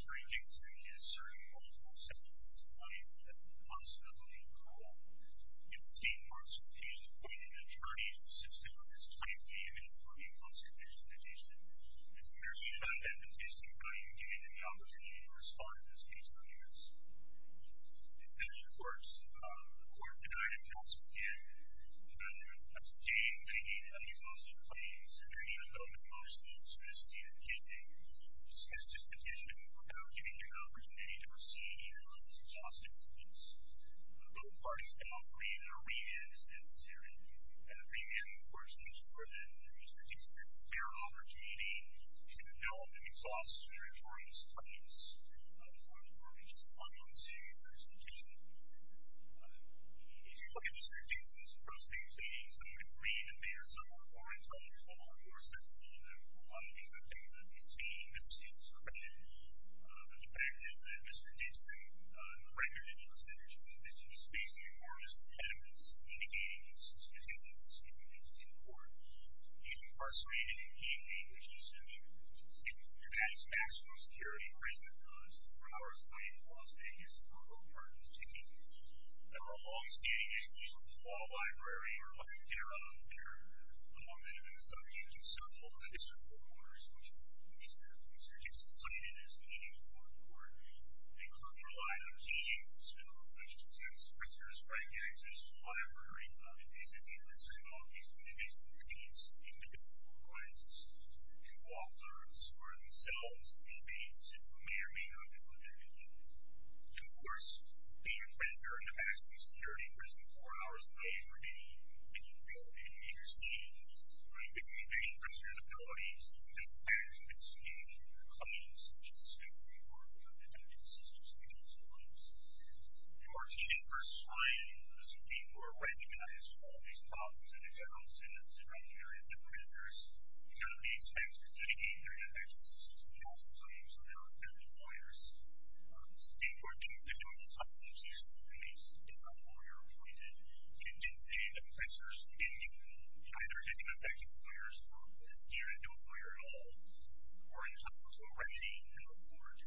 Attorney Dixon is serving multiple sentences tonight and possibly in parole. In the state of New York, some cases point to an attorney insisting that his claim may have been for the inconsequential petition. Is there any kind of temptation by you to give him the opportunity to respond to his case documents? There is, of course. The court denied inconsequential. The defendant abstained, making an exhaustive claim, submitting a felony motion, soliciting a petition, discussing the petition, without giving him the opportunity to proceed, even though it was an exhaustive case. Both parties cannot agree that a remand is necessary. A remand, of course, means for the Mr. Dixon, if there is a fair opportunity, to develop an exhaustive and informed explanation for his unconsecutive petition. If you look at Mr. Dixon's proceedings, I'm going to read a bit of some of the points on the floor. There are several of them. One of the things that we've seen that seems credited to the defendant is that Mr. Dixon, the record indicates that there's an indication of space in the court's attendance, indicating that his existence is important. He's incarcerated in D.C., which is a city that has maximum security, a prison that goes four hours away from Las Vegas, a rural part of the city. There are long-standing issues with the law library. You're looking at their law benefits. There's several of them. Mr. Dixon's forewarners, which is the case that Mr. Dixon cited as being important, were the cultural items. He's a student of Mr. Dixon's. Mr. Dixon is writing in Mr. Dixon's library. It basically lists all of these indivisible things, indivisible requests to authors or themselves in D.C. who may or may not have lived in D.C. And, of course, being a prisoner in a maximum security prison, four hours away from D.C. when you're built in D.C., it may be a question of abilities, even if the plan is a bit skewed in your claims, such as the safety or the attendance of students or others. You are seen at first sight in the city who are recognized for all these problems and accounts in the surrounding areas of prisoners. You're going to be expected to detain their defendants to the cost of something so they are accepted lawyers. You are being sentenced on substitution in case they are not lawyer-appointed. You can't say that offenders in D.C. either have been effective lawyers for this year and don't lawyer at all or are entitled to a recognition report.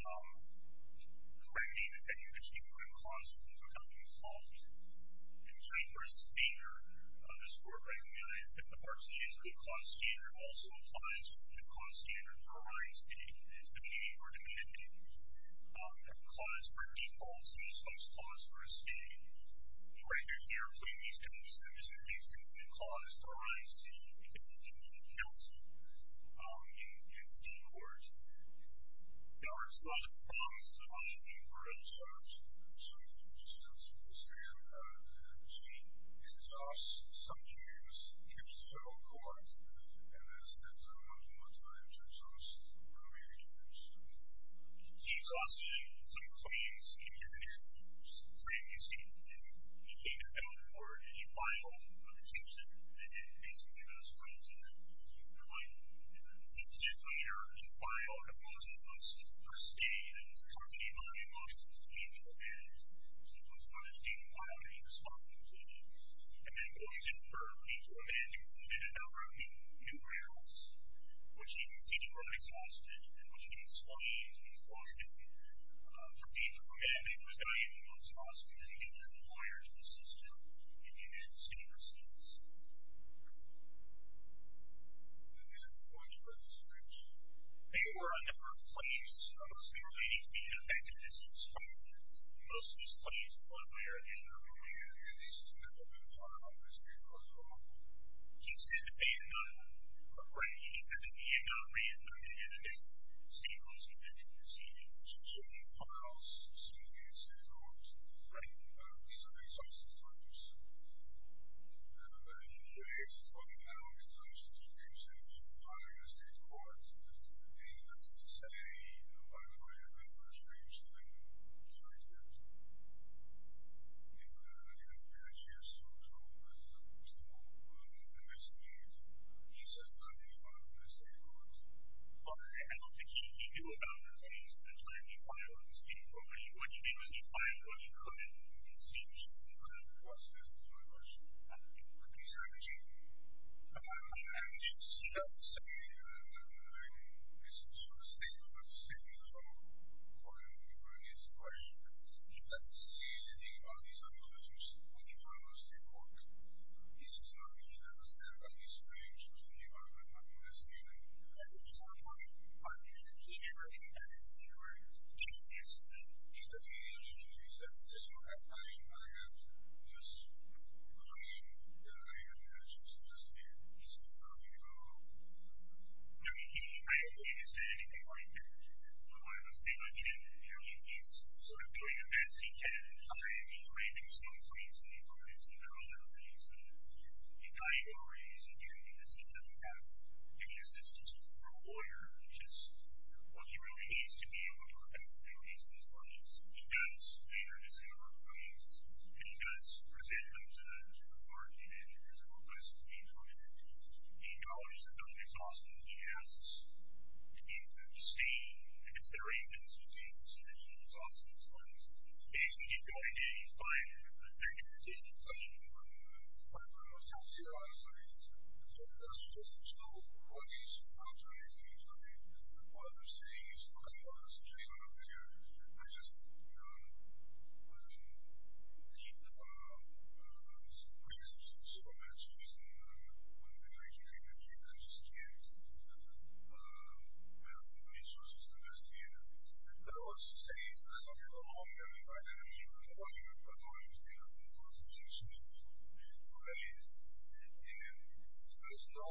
The remedy is that you achieve a good cost when you do something wrong. In terms of risk and danger, the score of remedy is that the part that is a good cost standard also applies to the good cost standard for R.I.C. It's the pay for the defendant. The cost for defaults is the cost for a stay. Right here, here, I'm putting these two numbers in place. The cost for R.I.C. is the duty to counsel in state courts. The R.I.C. is not a cost on its own for R.I.C. so you can use that to your advantage. It exhausts some juries, keeps the federal courts, and this is a much more time-saving process for the major juries. Exhausting some claims in your case, previously, if you came to fail court, you file a detention, and basically that's the right thing to do. It's just later in the file that most of us are staying and it's hard to get a lot of emotions when you get to the end. Most of us want to stay and file the exhaustive claim, and then go sit for a week or a day and implement a number of the new rules, which you can see to grow exhausted, and which you can slowly expand for people who can't make the time, most often, because it requires the system and conditions in your states. And then, why did you write this speech? They were a number of claims. Clearly, he's being affected as he's fighting against most of these claims, but we are interviewing him, and these things have been talked about in the state court as well. He said that he had none. Right. He said that he had no reason not to be in a state court detention proceedings. He should be filed as soon as he gets to the court. Right. These are resources for him to submit. And then, in your case, talking about his own situation, he's filing in a state court. Is there anything that's to say that, by the way, the administration is going to do that you're going to do, that you have some trouble with in the next few years? He says nothing about it in the state court. Well, I don't think he can do about those things. That's why he filed in the state court. When he did what he filed for, he couldn't. He couldn't. Right. This is my question. Do you think that he's averaging? I don't think he's averaging. He doesn't say anything. I mean, this is sort of a statement, but a statement from a lawyer who wrote his question. He doesn't say anything about his own situation when he filed in the state court. He says nothing. He doesn't say anything about his experiences in the environment when he was in jail. I think he's not talking about his experience in the environment when he was in jail yesterday. He doesn't say anything. He doesn't say anything. I mean, I don't know I mean, I imagine he says nothing about... I mean, I don't think he's saying anything like that. I don't know why I'm saying like he didn't. I mean, he's sort of doing the best he can. He's raising small claims in these arguments and they're all different things. He's not even raising any of these. He doesn't have any assistance from a lawyer, which is, well, he really hates to be in court for anything. He hates these arguments. He does favor these kind of arguments. And he does present them to the court and he does the best he can from it. He acknowledges that that's exhausting. He asks, and he abstains and considerates that it's exhausting as far as basically going to a fine or a standard interpretation. I think one of the things that I was happy about is that he doesn't just show what he's about to anything. Like, what I'm saying is what I want to say when I'm there. I just, you know, I mean, the, uh, the Supreme Court has just so much reason to think that he doesn't just care because he doesn't have the resources to investigate. But I want to say that I love him a long time. I mean, I don't even know how long he was there for. I mean, for days. And since there's no way for him to show that he doesn't have anything to say or anything to say about that he's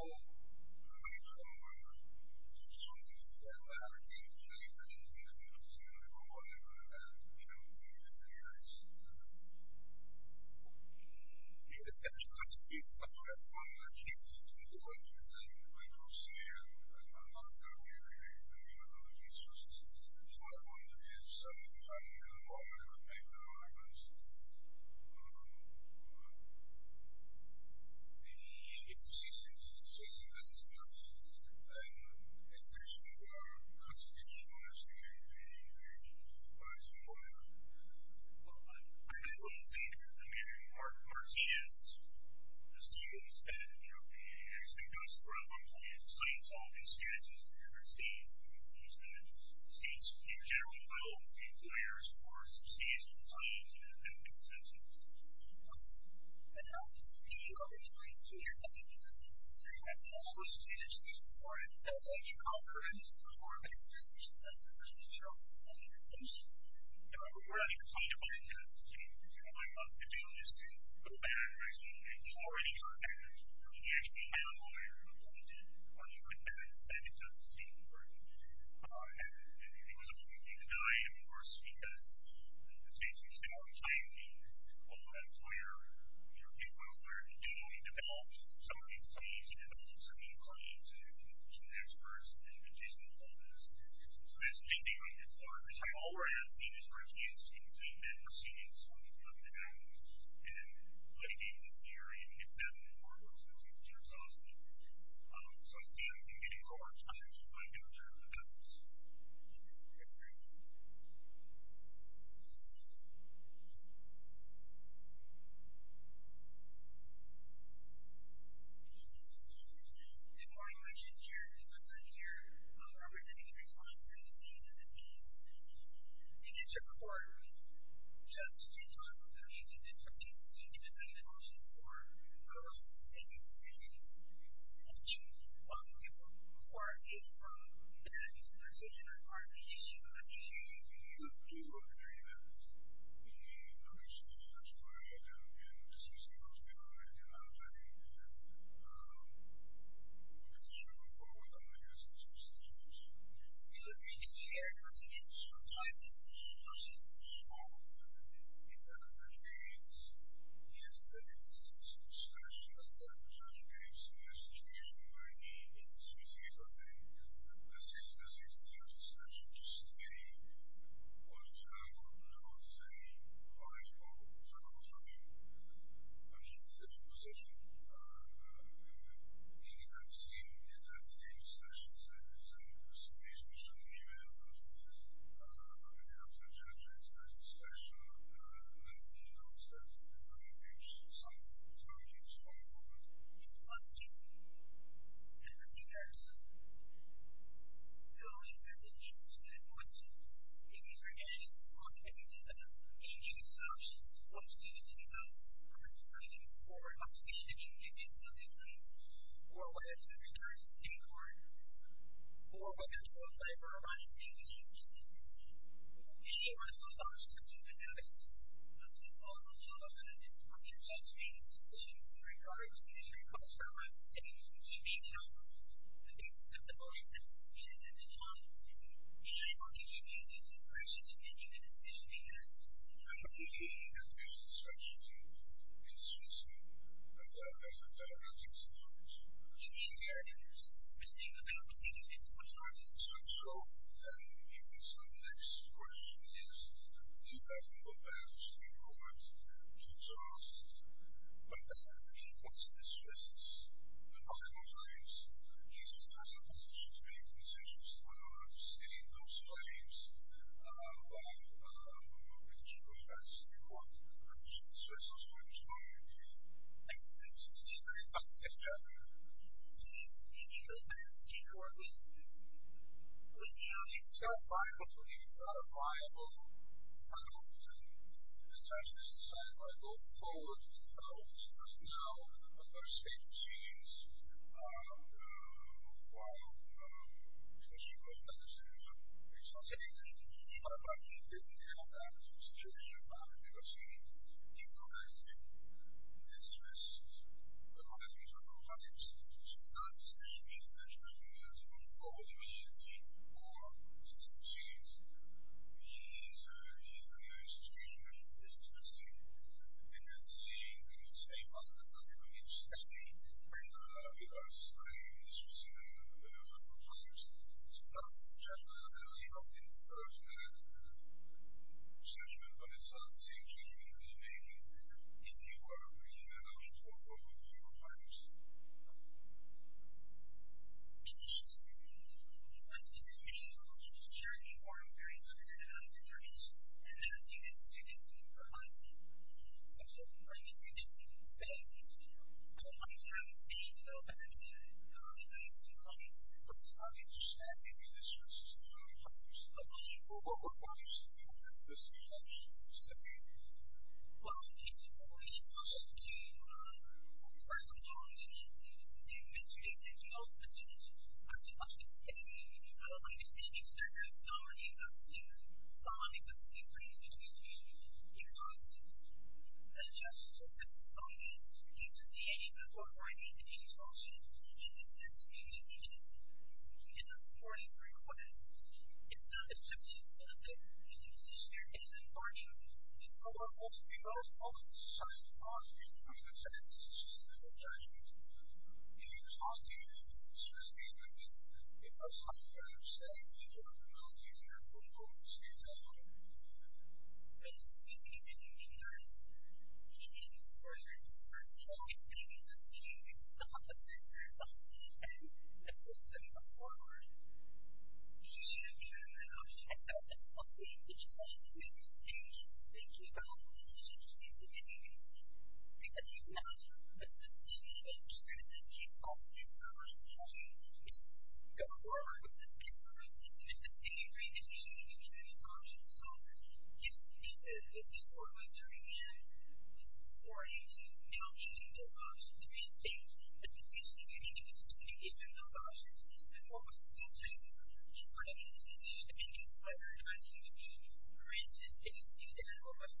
just bad guy. have anything to say about the Supreme Court. I think that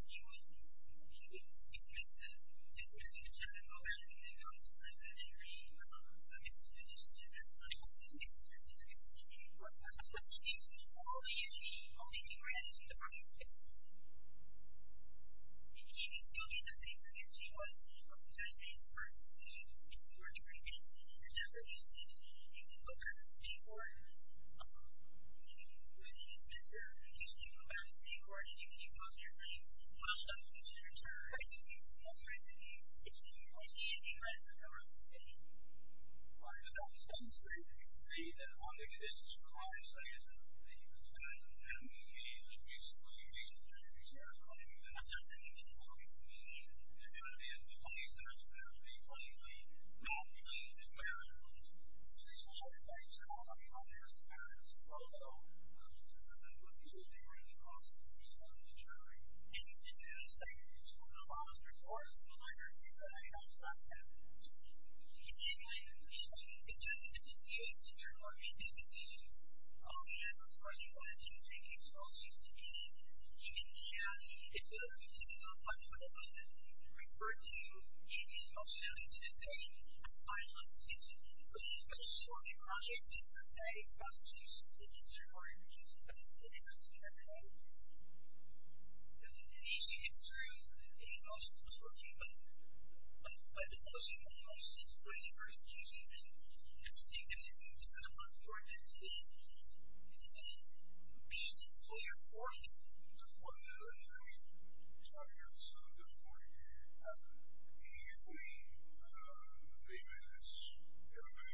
he does have a lot to say about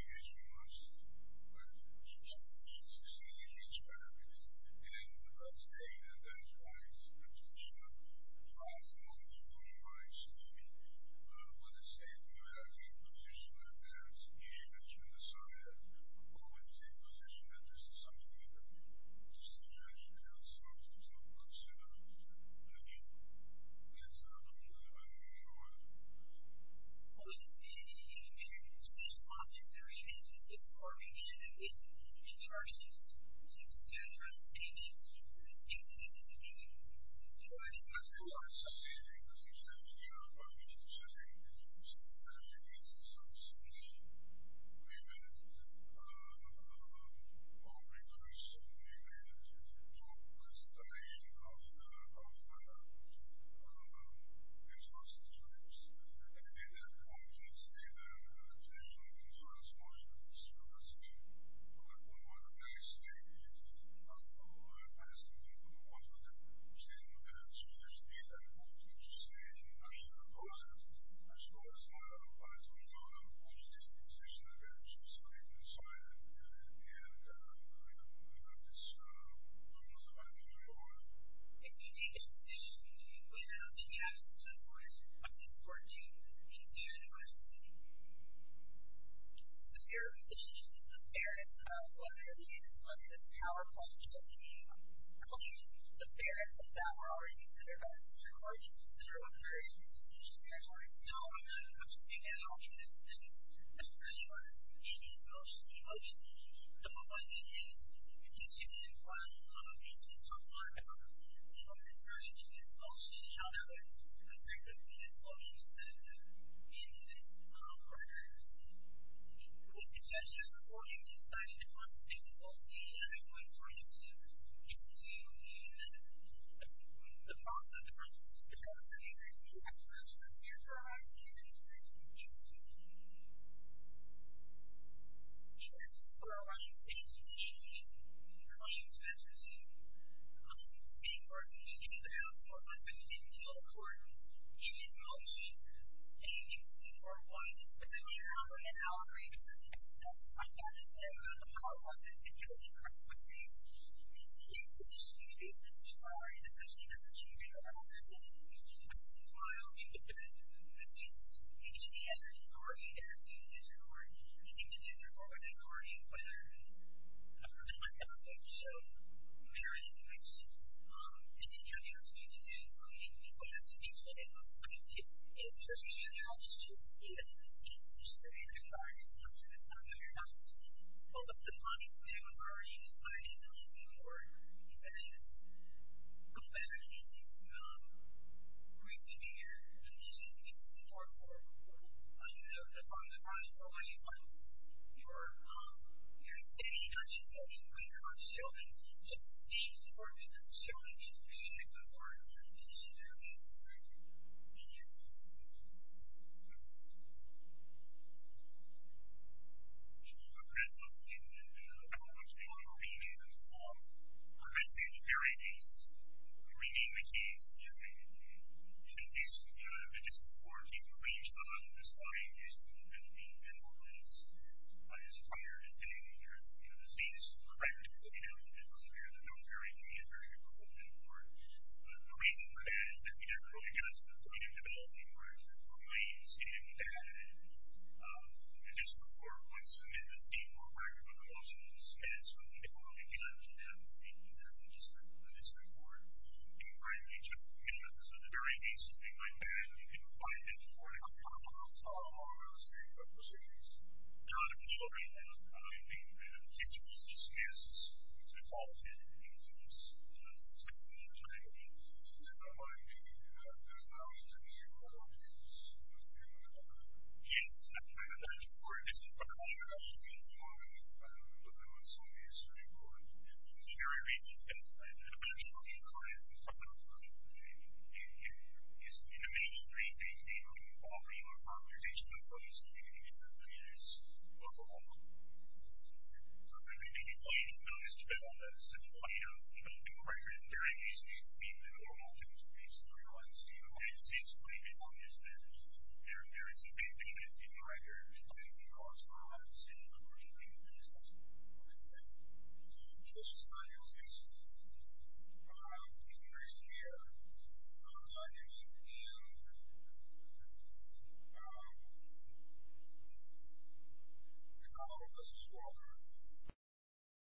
the Supreme Court. And I think that he really has to go back and you've already heard that. He actually found a lawyer who appointed him and said he didn't see the Supreme Court and it was a moment where was going to die of course because he was basically out of time. Although that's where he developed some of these things. He developed some new claims and petition policies so basically he went to court and he was receiving some of the documents and he was hearing him more about some of the results of the hearing. So I see him as Court judge. Thank you.